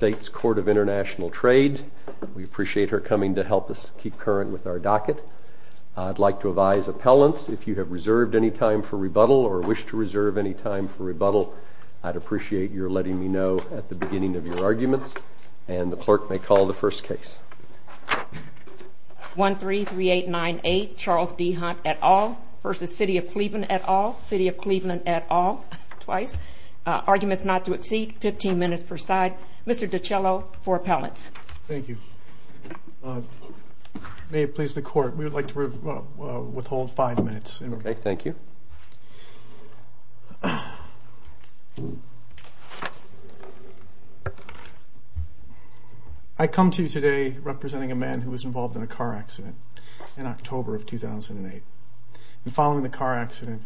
State's Court of International Trade. We appreciate her coming to help us keep current with our docket. I'd like to advise appellants, if you have reserved any time for rebuttal or wish to reserve any time for rebuttal, I'd appreciate your letting me know at the beginning of your arguments. And the clerk may call the first case. 133898 Charles D. Hunt et al. versus City of Cleveland et al. City of Cleveland et al. Arguments not to exceed 15 minutes per side. Mr. DiCiello for appellants. Thank you. May it please the court, we would like to withhold five minutes. Okay, thank you. I come to you today representing a man who was involved in a car accident in October of 2008. And following the car accident,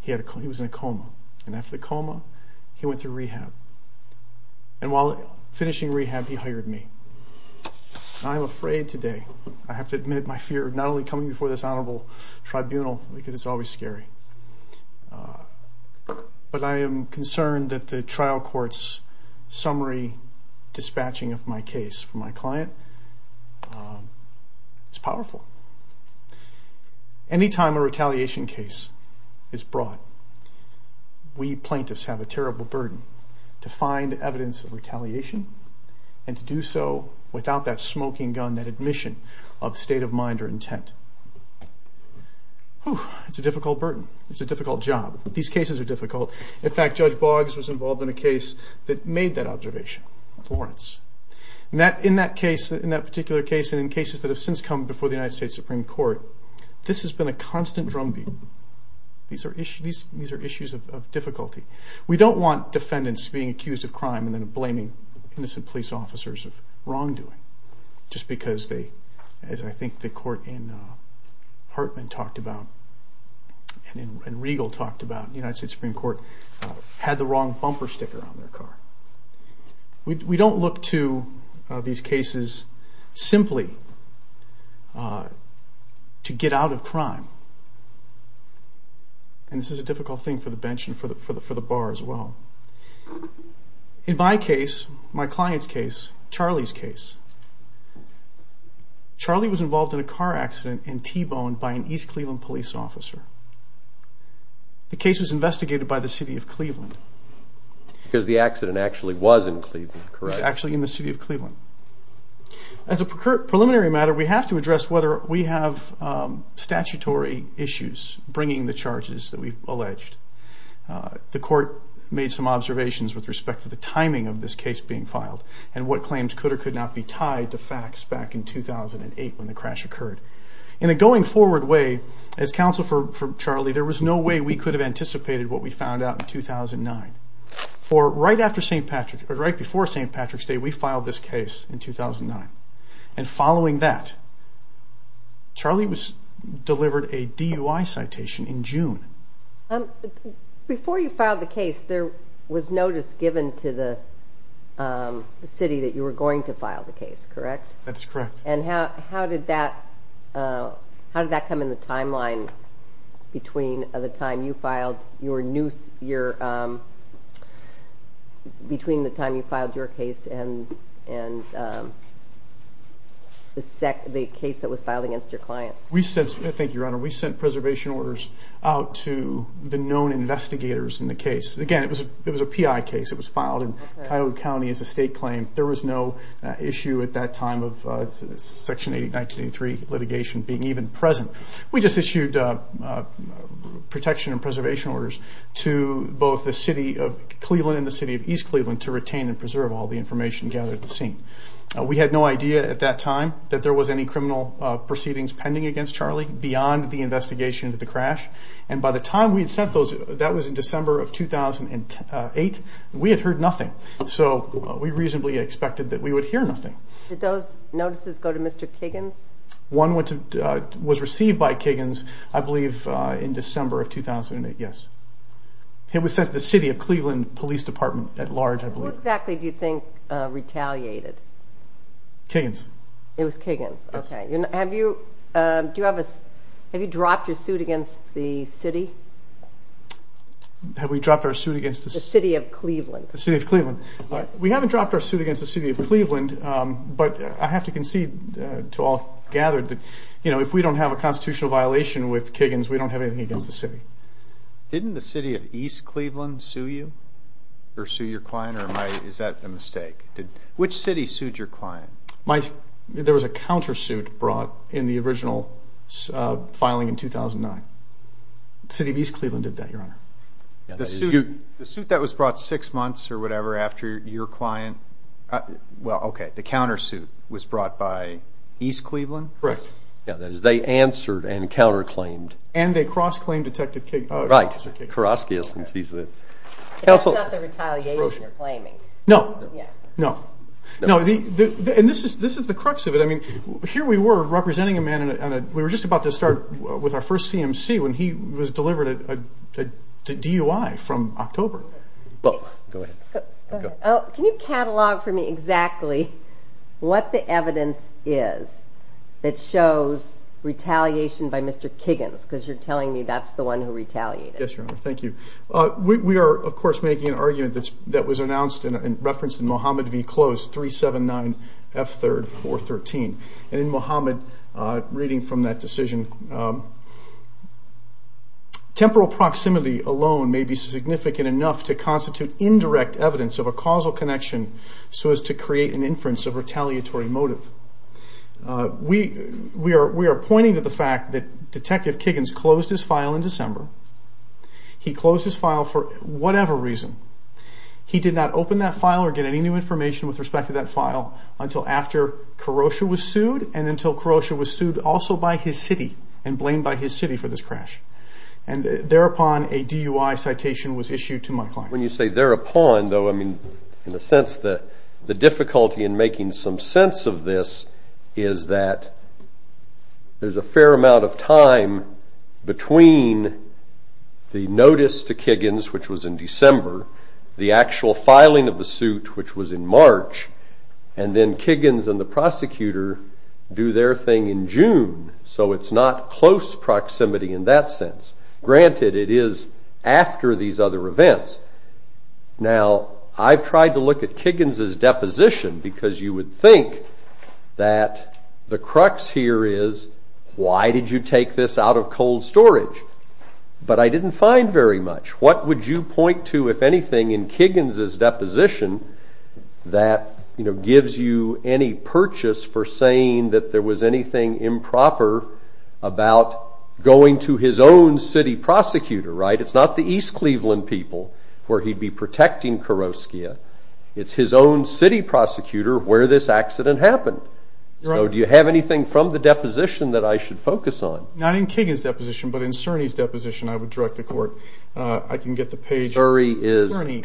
he was in a coma. And after the coma, he went through rehab. And while finishing rehab, he hired me. I'm afraid today, I have to admit my fear of not only coming before this honorable tribunal, because it's always scary, but I am concerned that the trial court's summary dispatching of my case for my client is powerful. Any time a retaliation case is brought, we plaintiffs have a terrible burden to find evidence of retaliation and to do so without that smoking gun, that admission of state of mind or intent. It's a difficult burden. It's a difficult job. These cases are difficult. In fact, Judge Boggs was involved in a case that made that observation, Florence. In that case, in that particular case and in cases that have since come before the United States Supreme Court, this has been a constant drumbeat. These are issues of difficulty. We don't want defendants being accused of crime and then blaming innocent police officers of wrongdoing, just because they, as I think the court in Hartman talked about and in Regal talked about, the United States Supreme Court, had the wrong bumper sticker on their car. We don't look to these cases simply to get out of crime. And this is a difficult thing for the bench and for the bar as well. In my case, my client's case, Charlie's case, Charlie was involved in a car accident and T-boned by an East Cleveland police officer. The case was investigated by the city of Cleveland. Because the accident actually was in Cleveland, correct? It was actually in the city of Cleveland. As a preliminary matter, we have to address whether we have statutory issues bringing the charges that we've alleged. The court made some observations with respect to the timing of this case being filed and what claims could or could not be tied to facts back in 2008 when the crash occurred. In a going forward way, as counsel for Charlie, there was no way we could have anticipated what we found out in 2009. For right before St. Patrick's Day, we filed this case in 2009. And following that, Charlie delivered a DUI citation in June. Before you filed the case, there was notice given to the city that you were going to file the case, correct? That's correct. And how did that come in the timeline between the time you filed your case and the case that was filed against your client? Thank you, Your Honor. We sent preservation orders out to the known investigators in the case. Again, it was a PI case. It was filed in Cuyahoga County as a state claim. There was no issue at that time of Section 1983 litigation being even present. We just issued protection and preservation orders to both the city of Cleveland and the city of East Cleveland to retain and preserve all the information gathered at the scene. We had no idea at that time that there was any criminal proceedings pending against Charlie beyond the investigation of the crash. And by the time we had sent those, that was in December of 2008, we had heard nothing. So we reasonably expected that we would hear nothing. Did those notices go to Mr. Kiggins? One was received by Kiggins, I believe, in December of 2008, yes. It was sent to the city of Cleveland Police Department at large, I believe. Who exactly do you think retaliated? Kiggins. It was Kiggins, okay. Have you dropped your suit against the city? Have we dropped our suit against the city? The city of Cleveland. The city of Cleveland. We haven't dropped our suit against the city of Cleveland, but I have to concede to all gathered that if we don't have a constitutional violation with Kiggins, we don't have anything against the city. Didn't the city of East Cleveland sue you or sue your client, or is that a mistake? Which city sued your client? There was a countersuit brought in the original filing in 2009. The city of East Cleveland did that, Your Honor. The suit that was brought six months or whatever after your client, well, okay, the countersuit was brought by East Cleveland? Correct. Yeah, that is, they answered and counterclaimed. And they cross-claimed Detective Kiggins. Right. Karraski is. That's not the retaliation you're claiming. No. Yeah. No. No, and this is the crux of it. I mean, here we were representing a man, and we were just about to start with our first CMC when he was delivered a DUI from October. Go ahead. Can you catalog for me exactly what the evidence is that shows retaliation by Mr. Kiggins? Because you're telling me that's the one who retaliated. Yes, Your Honor. Thank you. We are, of course, making an argument that was announced and referenced in Mohammed v. Close 379 F3 413. And in Mohammed, reading from that decision, temporal proximity alone may be significant enough to constitute indirect evidence of a causal connection so as to create an inference of retaliatory motive. We are pointing to the fact that Detective Kiggins closed his file in December. He closed his file for whatever reason. He did not open that file or get any new information with respect to that file until after Karrosha was sued and until Karrosha was sued also by his city and blamed by his city for this crash. And thereupon a DUI citation was issued to my client. When you say thereupon, though, I mean, in a sense the difficulty in making some sense of this is that there's a fair amount of time between the notice to Kiggins, which was in December, the actual filing of the suit, which was in March, and then Kiggins and the prosecutor do their thing in June. So it's not close proximity in that sense. Granted, it is after these other events. Now, I've tried to look at Kiggins' deposition because you would think that the crux here is why did you take this out of cold storage? But I didn't find very much. What would you point to, if anything, in Kiggins' deposition that gives you any purchase for saying that there was anything improper about going to his own city prosecutor, right? It's not the East Cleveland people where he'd be protecting Kuroskia. It's his own city prosecutor where this accident happened. So do you have anything from the deposition that I should focus on? Not in Kiggins' deposition, but in Cerny's deposition, I would direct the court. I can get the page. Cerny.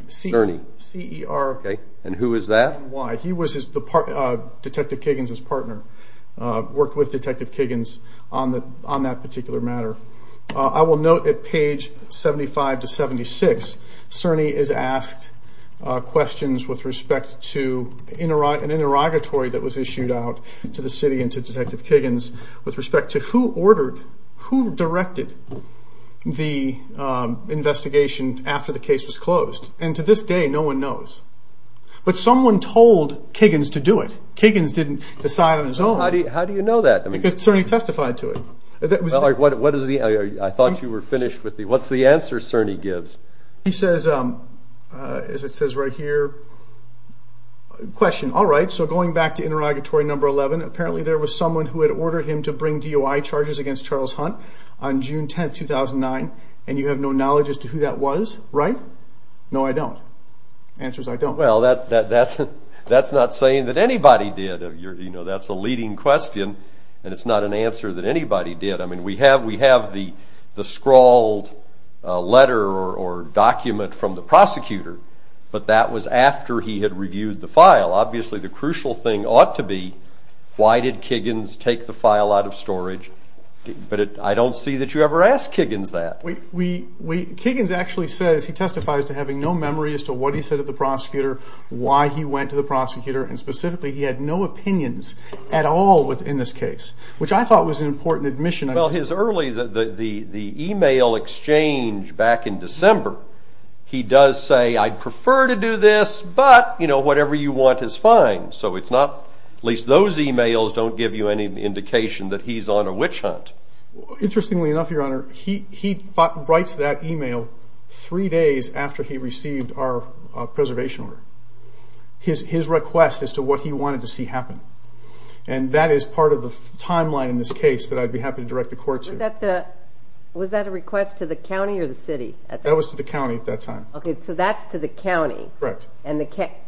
C-E-R-N-Y. And who is that? He was Detective Kiggins' partner, worked with Detective Kiggins on that particular matter. I will note at page 75 to 76, Cerny is asked questions with respect to an interrogatory that was issued out to the city and to Detective Kiggins with respect to who ordered, who directed the investigation after the case was closed. And to this day, no one knows. But someone told Kiggins to do it. Kiggins didn't decide on his own. How do you know that? Because Cerny testified to it. I thought you were finished. What's the answer Cerny gives? He says, as it says right here, Question. All right, so going back to interrogatory number 11, apparently there was someone who had ordered him to bring DOI charges against Charles Hunt on June 10, 2009, and you have no knowledge as to who that was, right? No, I don't. The answer is I don't. Well, that's not saying that anybody did. That's a leading question, and it's not an answer that anybody did. I mean, we have the scrawled letter or document from the prosecutor, but that was after he had reviewed the file. Obviously, the crucial thing ought to be, why did Kiggins take the file out of storage? But I don't see that you ever asked Kiggins that. Kiggins actually says, he testifies to having no memory as to what he said to the prosecutor, why he went to the prosecutor, and specifically, he had no opinions at all in this case, which I thought was an important admission. Well, the email exchange back in December, he does say, I'd prefer to do this, but whatever you want is fine. So at least those emails don't give you any indication that he's on a witch hunt. Interestingly enough, Your Honor, he writes that email three days after he received our preservation order. His request as to what he wanted to see happen. And that is part of the timeline in this case that I'd be happy to direct the court to. Was that a request to the county or the city? That was to the county at that time. Okay, so that's to the county. Correct.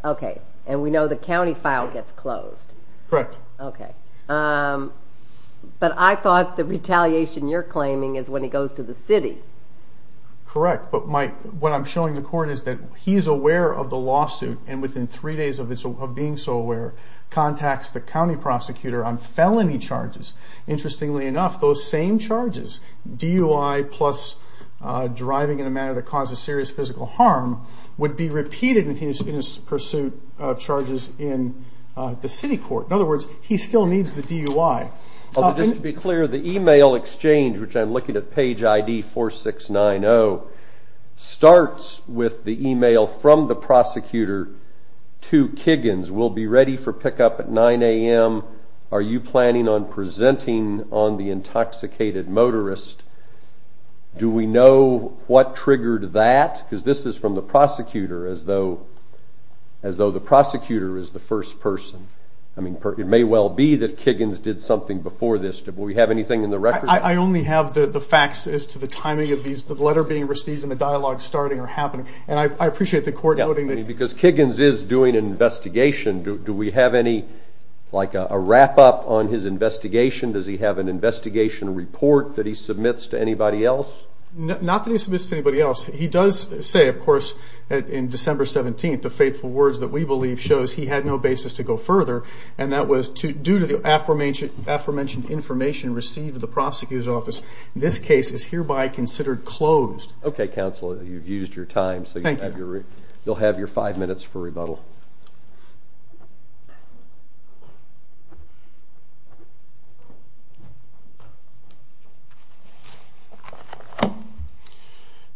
Okay, and we know the county file gets closed. Correct. Okay. But I thought the retaliation you're claiming is when he goes to the city. Correct, but what I'm showing the court is that he's aware of the lawsuit, and within three days of being so aware, contacts the county prosecutor on felony charges. Interestingly enough, those same charges, DUI plus driving in a manner that causes serious physical harm, would be repeated in his pursuit of charges in the city court. In other words, he still needs the DUI. Just to be clear, the email exchange, which I'm looking at page ID 4690, starts with the email from the prosecutor to Kiggins. We'll be ready for pickup at 9 a.m. Are you planning on presenting on the intoxicated motorist? Do we know what triggered that? Because this is from the prosecutor as though the prosecutor is the first person. I mean, it may well be that Kiggins did something before this. Do we have anything in the record? I only have the facts as to the timing of the letter being received and the dialogue starting or happening. And I appreciate the court noting that. Because Kiggins is doing an investigation. Do we have any, like, a wrap-up on his investigation? Does he have an investigation report that he submits to anybody else? Not that he submits to anybody else. He does say, of course, in December 17th, the faithful words that we believe shows he had no basis to go further, and that was due to the aforementioned information received at the prosecutor's office. This case is hereby considered closed. Okay, counsel, you've used your time. Thank you. You'll have your five minutes for rebuttal. Thank you.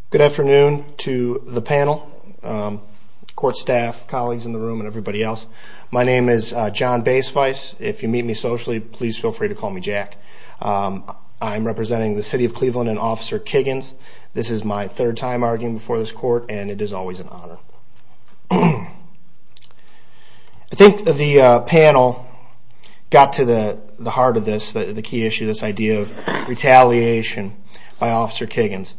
Good afternoon to the panel, court staff, colleagues in the room, and everybody else. My name is John Baisweiss. If you meet me socially, please feel free to call me Jack. I'm representing the city of Cleveland and Officer Kiggins. This is my third time arguing before this court, and it is always an honor. I think the panel got to the heart of this, the key issue, this idea of retaliation by Officer Kiggins.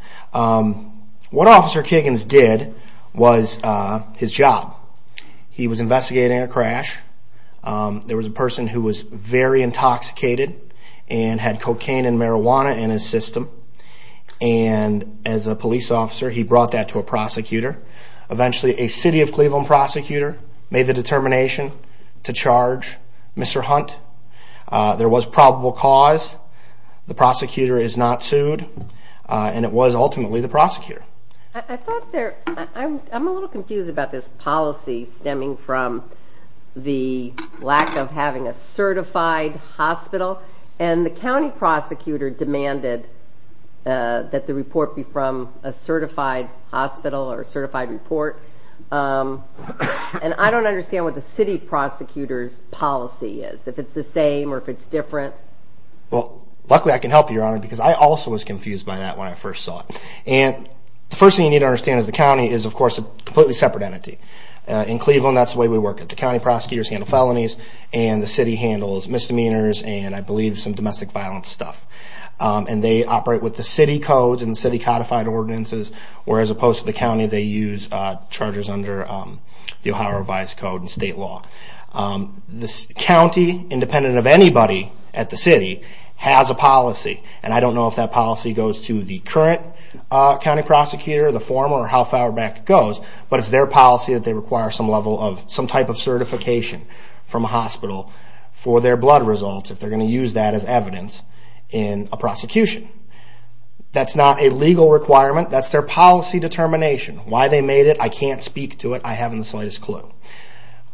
What Officer Kiggins did was his job. He was investigating a crash. There was a person who was very intoxicated and had cocaine and marijuana in his system. As a police officer, he brought that to a prosecutor. Eventually, a city of Cleveland prosecutor made the determination to charge Mr. Hunt. There was probable cause. The prosecutor is not sued, and it was ultimately the prosecutor. I'm a little confused about this policy stemming from the lack of having a certified hospital, and the county prosecutor demanded that the report be from a certified hospital or a certified report. I don't understand what the city prosecutor's policy is, if it's the same or if it's different. Luckily, I can help you, Your Honor, because I also was confused by that when I first saw it. The first thing you need to understand is the county is, of course, a completely separate entity. In Cleveland, that's the way we work. The county prosecutors handle felonies, and the city handles misdemeanors and, I believe, some domestic violence stuff. They operate with the city codes and the city-codified ordinances, where, as opposed to the county, they use charges under the Ohio Revised Code and state law. The county, independent of anybody at the city, has a policy. I don't know if that policy goes to the current county prosecutor, the former, or how far back it goes, but it's their policy that they require some type of certification from a hospital for their blood results, if they're going to use that as evidence in a prosecution. That's not a legal requirement. That's their policy determination. Why they made it, I can't speak to it. I haven't the slightest clue.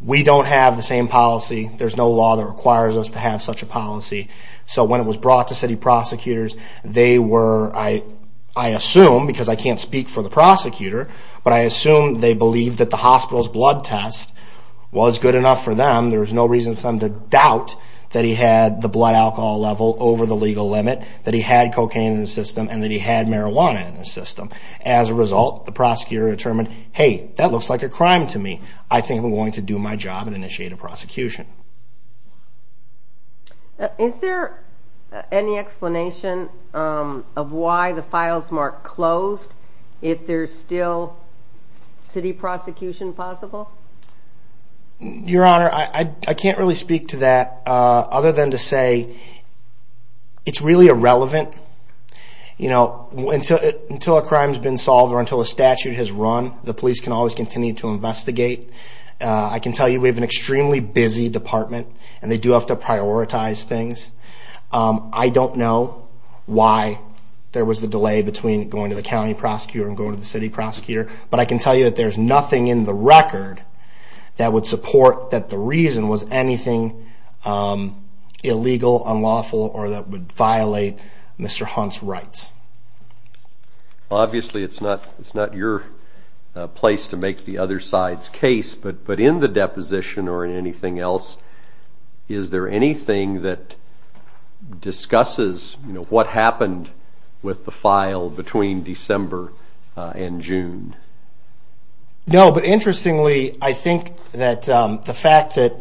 We don't have the same policy. There's no law that requires us to have such a policy. When it was brought to city prosecutors, I assume, because I can't speak for the prosecutor, but I assume they believed that the hospital's blood test was good enough for them. There was no reason for them to doubt that he had the blood alcohol level over the legal limit, that he had cocaine in the system, and that he had marijuana in the system. As a result, the prosecutor determined, hey, that looks like a crime to me. I think I'm going to do my job and initiate a prosecution. Is there any explanation of why the files weren't closed if there's still city prosecution possible? Your Honor, I can't really speak to that, other than to say it's really irrelevant. Until a crime's been solved or until a statute has run, the police can always continue to investigate. I can tell you we have an extremely busy department, and they do have to prioritize things. I don't know why there was a delay between going to the county prosecutor and going to the city prosecutor, but I can tell you that there's nothing in the record that would support that the reason was anything illegal, unlawful, or that would violate Mr. Hunt's rights. Obviously, it's not your place to make the other side's case, but in the deposition or in anything else, is there anything that discusses what happened with the file between December and June? No, but interestingly, I think that the fact that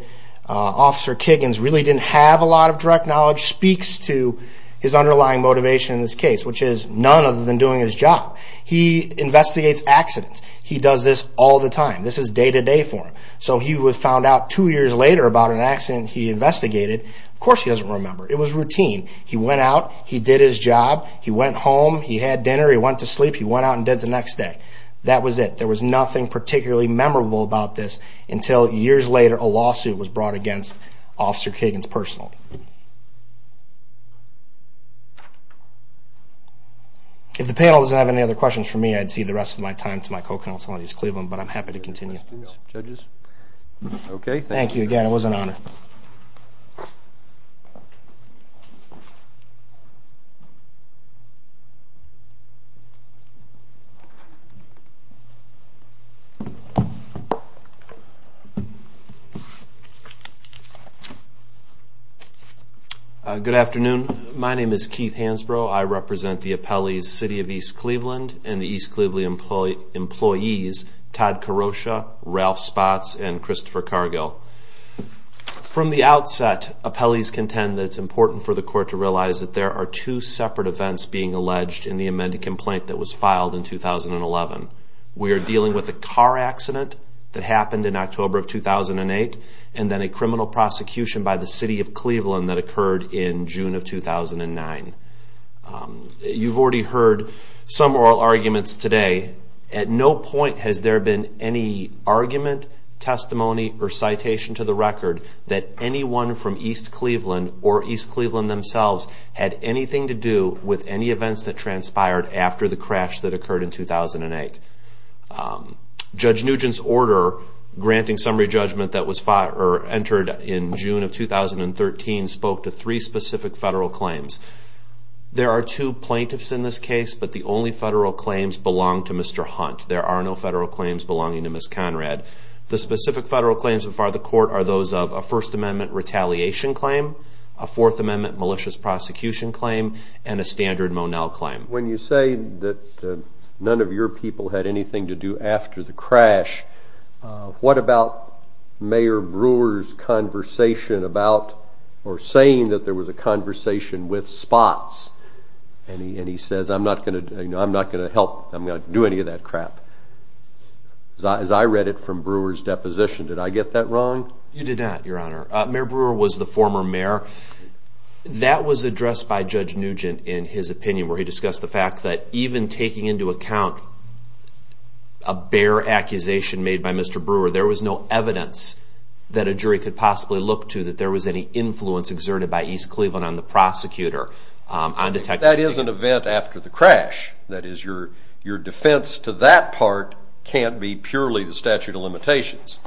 Officer Kiggins really didn't have a lot of direct knowledge speaks to his underlying motivation in this case, which is none other than doing his job. He investigates accidents. He does this all the time. This is day-to-day for him. So he found out two years later about an accident he investigated. Of course he doesn't remember. It was routine. He went out. He did his job. He went home. He had dinner. He went to sleep. He went out and did it the next day. That was it. There was nothing particularly memorable about this until years later a lawsuit was brought against Officer Kiggins personally. If the panel doesn't have any other questions for me, I'd cede the rest of my time to my co-counsel in East Cleveland, but I'm happy to continue. Thank you again. It was an honor. Good afternoon. My name is Keith Hansbro. I represent the appellees, City of East Cleveland, and the East Cleveland employees, Todd Karosha, Ralph Spotts, and Christopher Cargill. From the outset, appellees contend that it's important for the court to realize that there are two separate events being alleged in the amended complaint that was filed in 2011. We are dealing with a car accident that happened in October of 2008, and then a criminal prosecution by the City of Cleveland that occurred in June of 2009. You've already heard some oral arguments today. At no point has there been any argument, testimony, or citation to the record that anyone from East Cleveland or East Cleveland themselves had anything to do with any events that transpired after the crash that occurred in 2008. Judge Nugent's order granting summary judgment that was entered in June of 2013 spoke to three specific federal claims. There are two plaintiffs in this case, but the only federal claims belong to Mr. Hunt. There are no federal claims belonging to Ms. Conrad. The specific federal claims before the court are those of a First Amendment retaliation claim, a Fourth Amendment malicious prosecution claim, and a standard Monell claim. When you say that none of your people had anything to do after the crash, what about Mayor Brewer's conversation about or saying that there was a conversation with spots? And he says, I'm not going to help. I'm not going to do any of that crap. As I read it from Brewer's deposition, did I get that wrong? You did not, Your Honor. Mayor Brewer was the former mayor. That was addressed by Judge Nugent in his opinion where he discussed the fact that even taking into account a bare accusation made by Mr. Brewer, there was no evidence that a jury could possibly look to that there was any influence exerted by East Cleveland on the prosecutor. That is an event after the crash. That is, your defense to that part can't be purely the statute of limitations.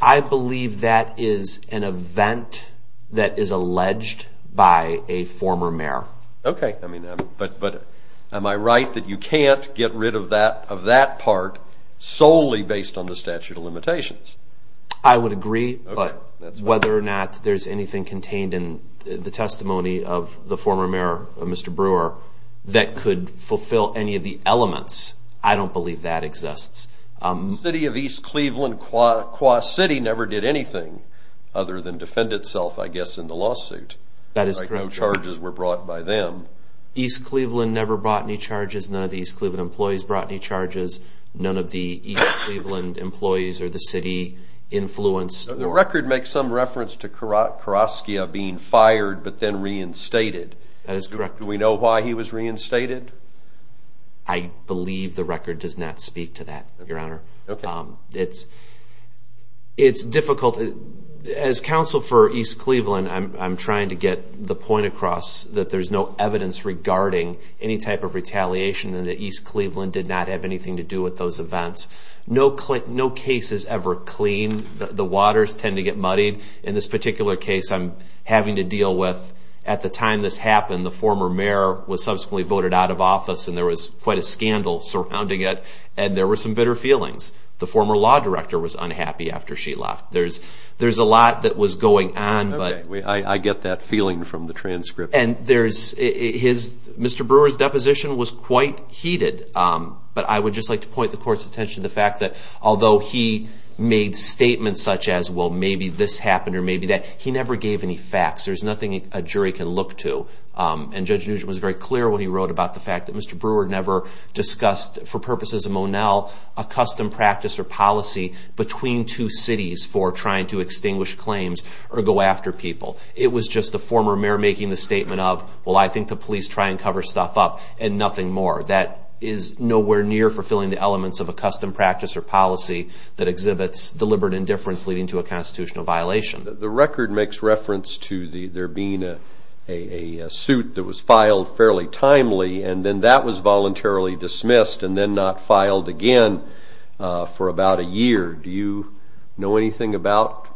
I believe that is an event that is alleged by a former mayor. Okay, but am I right that you can't get rid of that part solely based on the statute of limitations? I would agree, but whether or not there's anything contained in the testimony of the former mayor, Mr. Brewer, that could fulfill any of the elements, I don't believe that exists. The city of East Cleveland, Qua City, never did anything other than defend itself, I guess, in the lawsuit. That is correct, Your Honor. No charges were brought by them. East Cleveland never brought any charges. None of the East Cleveland employees brought any charges. None of the East Cleveland employees or the city influenced or... The record makes some reference to Karaskia being fired but then reinstated. That is correct, Your Honor. Do we know why he was reinstated? I believe the record does not speak to that, Your Honor. Okay. It's difficult. As counsel for East Cleveland, I'm trying to get the point across that there's no evidence regarding any type of retaliation and that East Cleveland did not have anything to do with those events. No case is ever clean. The waters tend to get muddied. In this particular case, I'm having to deal with, at the time this happened, the former mayor was subsequently voted out of office and there was quite a scandal surrounding it and there were some bitter feelings. The former law director was unhappy after she left. There's a lot that was going on but... Okay. I get that feeling from the transcript. Mr. Brewer's deposition was quite heated but I would just like to point the court's attention to the fact that although he made statements such as, well, maybe this happened or maybe that, he never gave any facts. There's nothing a jury can look to. And Judge Nugent was very clear when he wrote about the fact that Mr. Brewer never discussed, for purposes of Monell, a custom practice or policy between two cities for trying to extinguish claims or go after people. It was just the former mayor making the statement of, well, I think the police try and cover stuff up and nothing more. That is nowhere near fulfilling the elements of a custom practice or policy that exhibits deliberate indifference leading to a constitutional violation. The record makes reference to there being a suit that was filed fairly timely and then that was voluntarily dismissed and then not filed again for about a year. Do you know anything about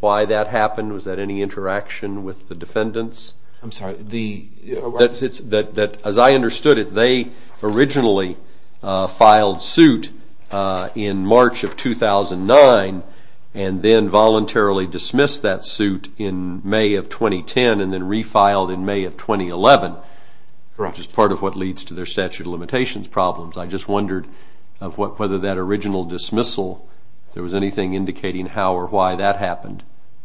why that happened? Was that any interaction with the defendants? I'm sorry. As I understood it, they originally filed suit in March of 2009 and then voluntarily dismissed that suit in May of 2010 and then refiled in May of 2011, which is part of what leads to their statute of limitations problems. I just wondered whether that original dismissal, if there was anything indicating how or why that happened.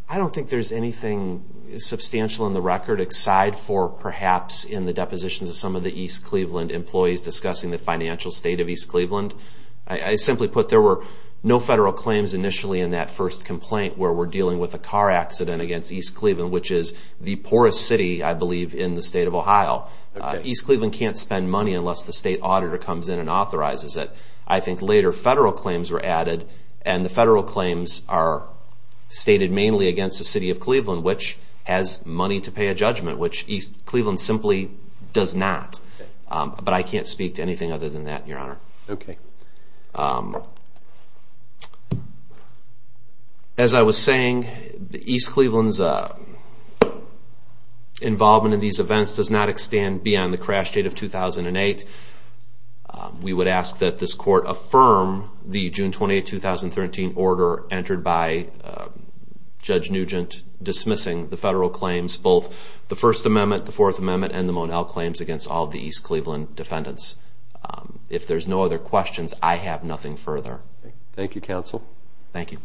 I don't think there's anything substantial in the record aside for perhaps in the depositions of some of the East Cleveland employees discussing the financial state of East Cleveland. I simply put, there were no federal claims initially in that first complaint where we're dealing with a car accident against East Cleveland, which is the poorest city, I believe, in the state of Ohio. East Cleveland can't spend money unless the state auditor comes in and authorizes it. I think later federal claims were added, and the federal claims are stated mainly against the city of Cleveland, which has money to pay a judgment, which East Cleveland simply does not. But I can't speak to anything other than that, Your Honor. Okay. As I was saying, East Cleveland's involvement in these events does not extend beyond the crash date of 2008. We would ask that this court affirm the June 28, 2013 order entered by Judge Nugent dismissing the federal claims, both the First Amendment, the Fourth Amendment, and the Monell claims against all of the East Cleveland defendants. If there's no other questions, I have nothing further. Thank you, counsel. Thank you.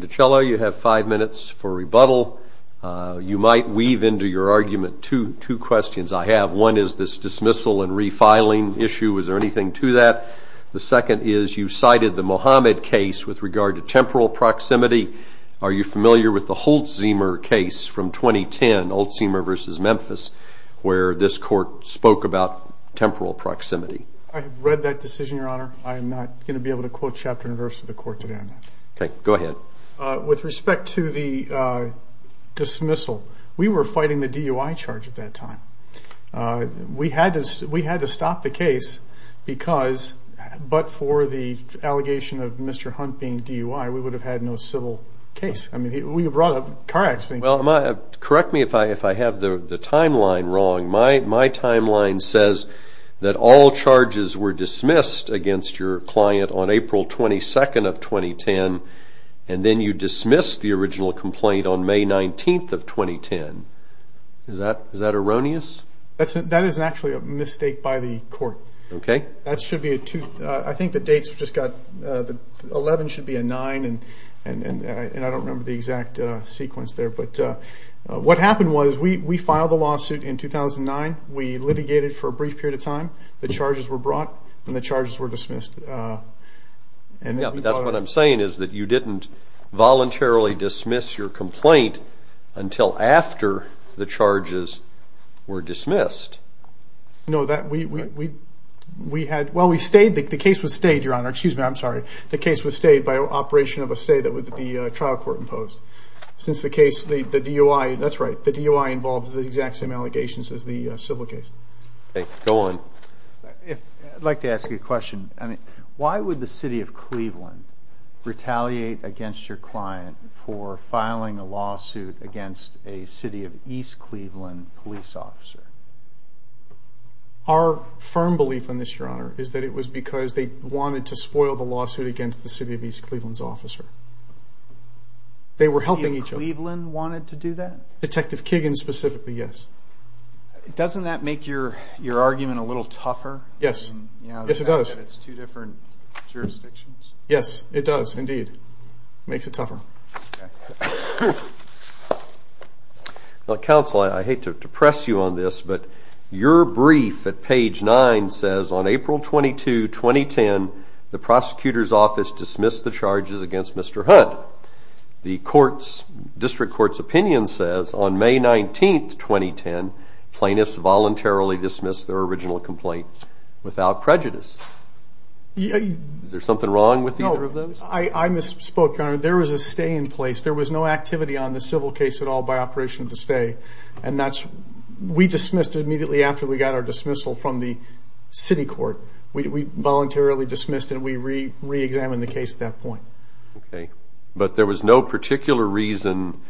DiCello, you have five minutes for rebuttal. You might weave into your argument two questions I have. One is this dismissal and refiling issue. Is there anything to that? The second is you cited the Mohammed case with regard to temporal proximity. Are you familiar with the Holtzheimer case from 2010, Holtzheimer v. Memphis, where this court spoke about temporal proximity? I have read that decision, Your Honor. I am not going to be able to quote chapter and verse of the court today on that. Okay. Go ahead. Well, with respect to the dismissal, we were fighting the DUI charge at that time. We had to stop the case because but for the allegation of Mr. Hunt being DUI, we would have had no civil case. I mean, we brought up car accidents. Well, correct me if I have the timeline wrong. My timeline says that all charges were dismissed against your client on April 22, 2010, and then you dismissed the original complaint on May 19, 2010. Is that erroneous? That is actually a mistake by the court. Okay. I think the dates just got 11 should be a 9, and I don't remember the exact sequence there. But what happened was we filed the lawsuit in 2009. We litigated for a brief period of time. The charges were brought, and the charges were dismissed. Yeah, but that's what I'm saying is that you didn't voluntarily dismiss your complaint until after the charges were dismissed. No, we had ñ well, we stayed. The case was stayed, Your Honor. Excuse me. I'm sorry. The case was stayed by operation of a stay that the trial court imposed. Since the case, the DUI ñ that's right. The DUI involves the exact same allegations as the civil case. Okay. Go on. I'd like to ask you a question. Why would the city of Cleveland retaliate against your client for filing a lawsuit against a city of East Cleveland police officer? Our firm belief on this, Your Honor, is that it was because they wanted to spoil the lawsuit against the city of East Cleveland's officer. They were helping each other. The city of Cleveland wanted to do that? Detective Kiggin specifically, yes. Doesn't that make your argument a little tougher? Yes. Yes, it does. It's two different jurisdictions. Yes, it does indeed. It makes it tougher. Counsel, I hate to depress you on this, but your brief at page 9 says on April 22, 2010, the prosecutor's office dismissed the charges against Mr. Hunt. The district court's opinion says on May 19, 2010, plaintiffs voluntarily dismissed their original complaint without prejudice. Is there something wrong with either of those? No. I misspoke, Your Honor. There was a stay in place. There was no activity on the civil case at all by operation of the stay, and we dismissed it immediately after we got our dismissal from the city court. We voluntarily dismissed, and we reexamined the case at that point. Okay. But there was no particular reason.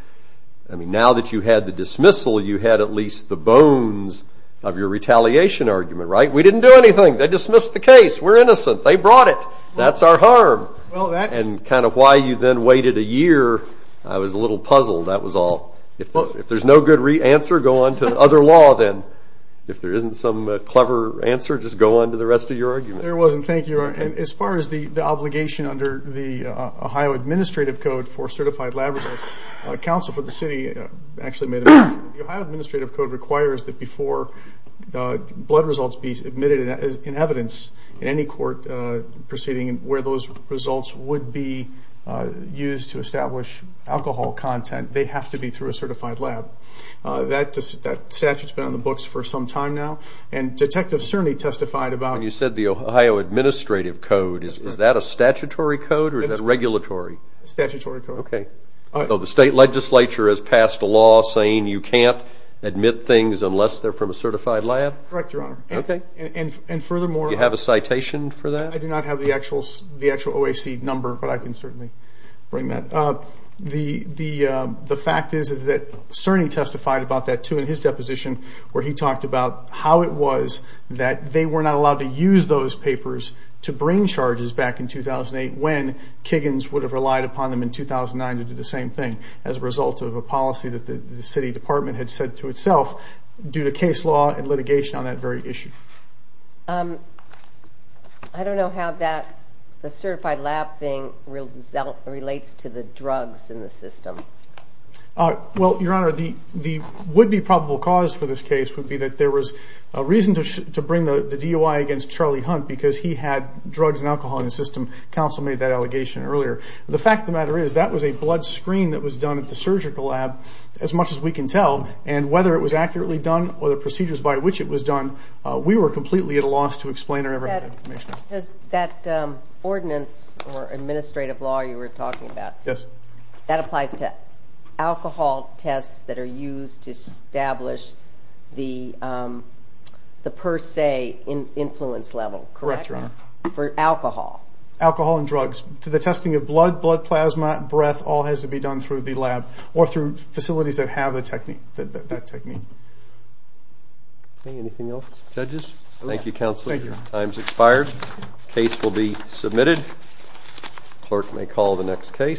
I mean, now that you had the dismissal, you had at least the bones of your retaliation argument, right? We didn't do anything. They dismissed the case. We're innocent. They brought it. That's our harm. And kind of why you then waited a year, I was a little puzzled. That was all. If there's no good answer, go on to other law then. If there isn't some clever answer, just go on to the rest of your argument. There wasn't. Thank you, Your Honor. As far as the obligation under the Ohio Administrative Code for certified lab results, counsel for the city actually made a motion. The Ohio Administrative Code requires that before blood results be admitted in evidence in any court proceeding where those results would be used to establish alcohol content, they have to be through a certified lab. That statute's been on the books for some time now, and detectives certainly testified about it. When you said the Ohio Administrative Code, is that a statutory code or is that regulatory? Statutory code. Okay. So the state legislature has passed a law saying you can't admit things unless they're from a certified lab? Correct, Your Honor. Okay. And furthermore. Do you have a citation for that? I do not have the actual OAC number, but I can certainly bring that up. The fact is that Cerny testified about that too in his deposition where he talked about how it was that they were not allowed to use those papers to bring charges back in 2008 when Kiggins would have relied upon them in 2009 to do the same thing as a result of a policy that the city department had said to itself due to case law and litigation on that very issue. I don't know how that certified lab thing relates to the drugs in the system. Well, Your Honor, the would-be probable cause for this case would be that there was a reason to bring the DUI against Charlie Hunt because he had drugs and alcohol in his system. Counsel made that allegation earlier. The fact of the matter is that was a blood screen that was done at the surgical lab, as much as we can tell, and whether it was accurately done or the procedures by which it was done, we were completely at a loss to explain or have any information. That ordinance or administrative law you were talking about, that applies to alcohol tests that are used to establish the per se influence level, correct? Correct, Your Honor. For alcohol? Alcohol and drugs. The testing of blood, blood plasma, breath all has to be done through the lab or through facilities that have that technique. Anything else? Judges? Thank you, Counsel. Time's expired. Case will be submitted. Clerk may call the next case.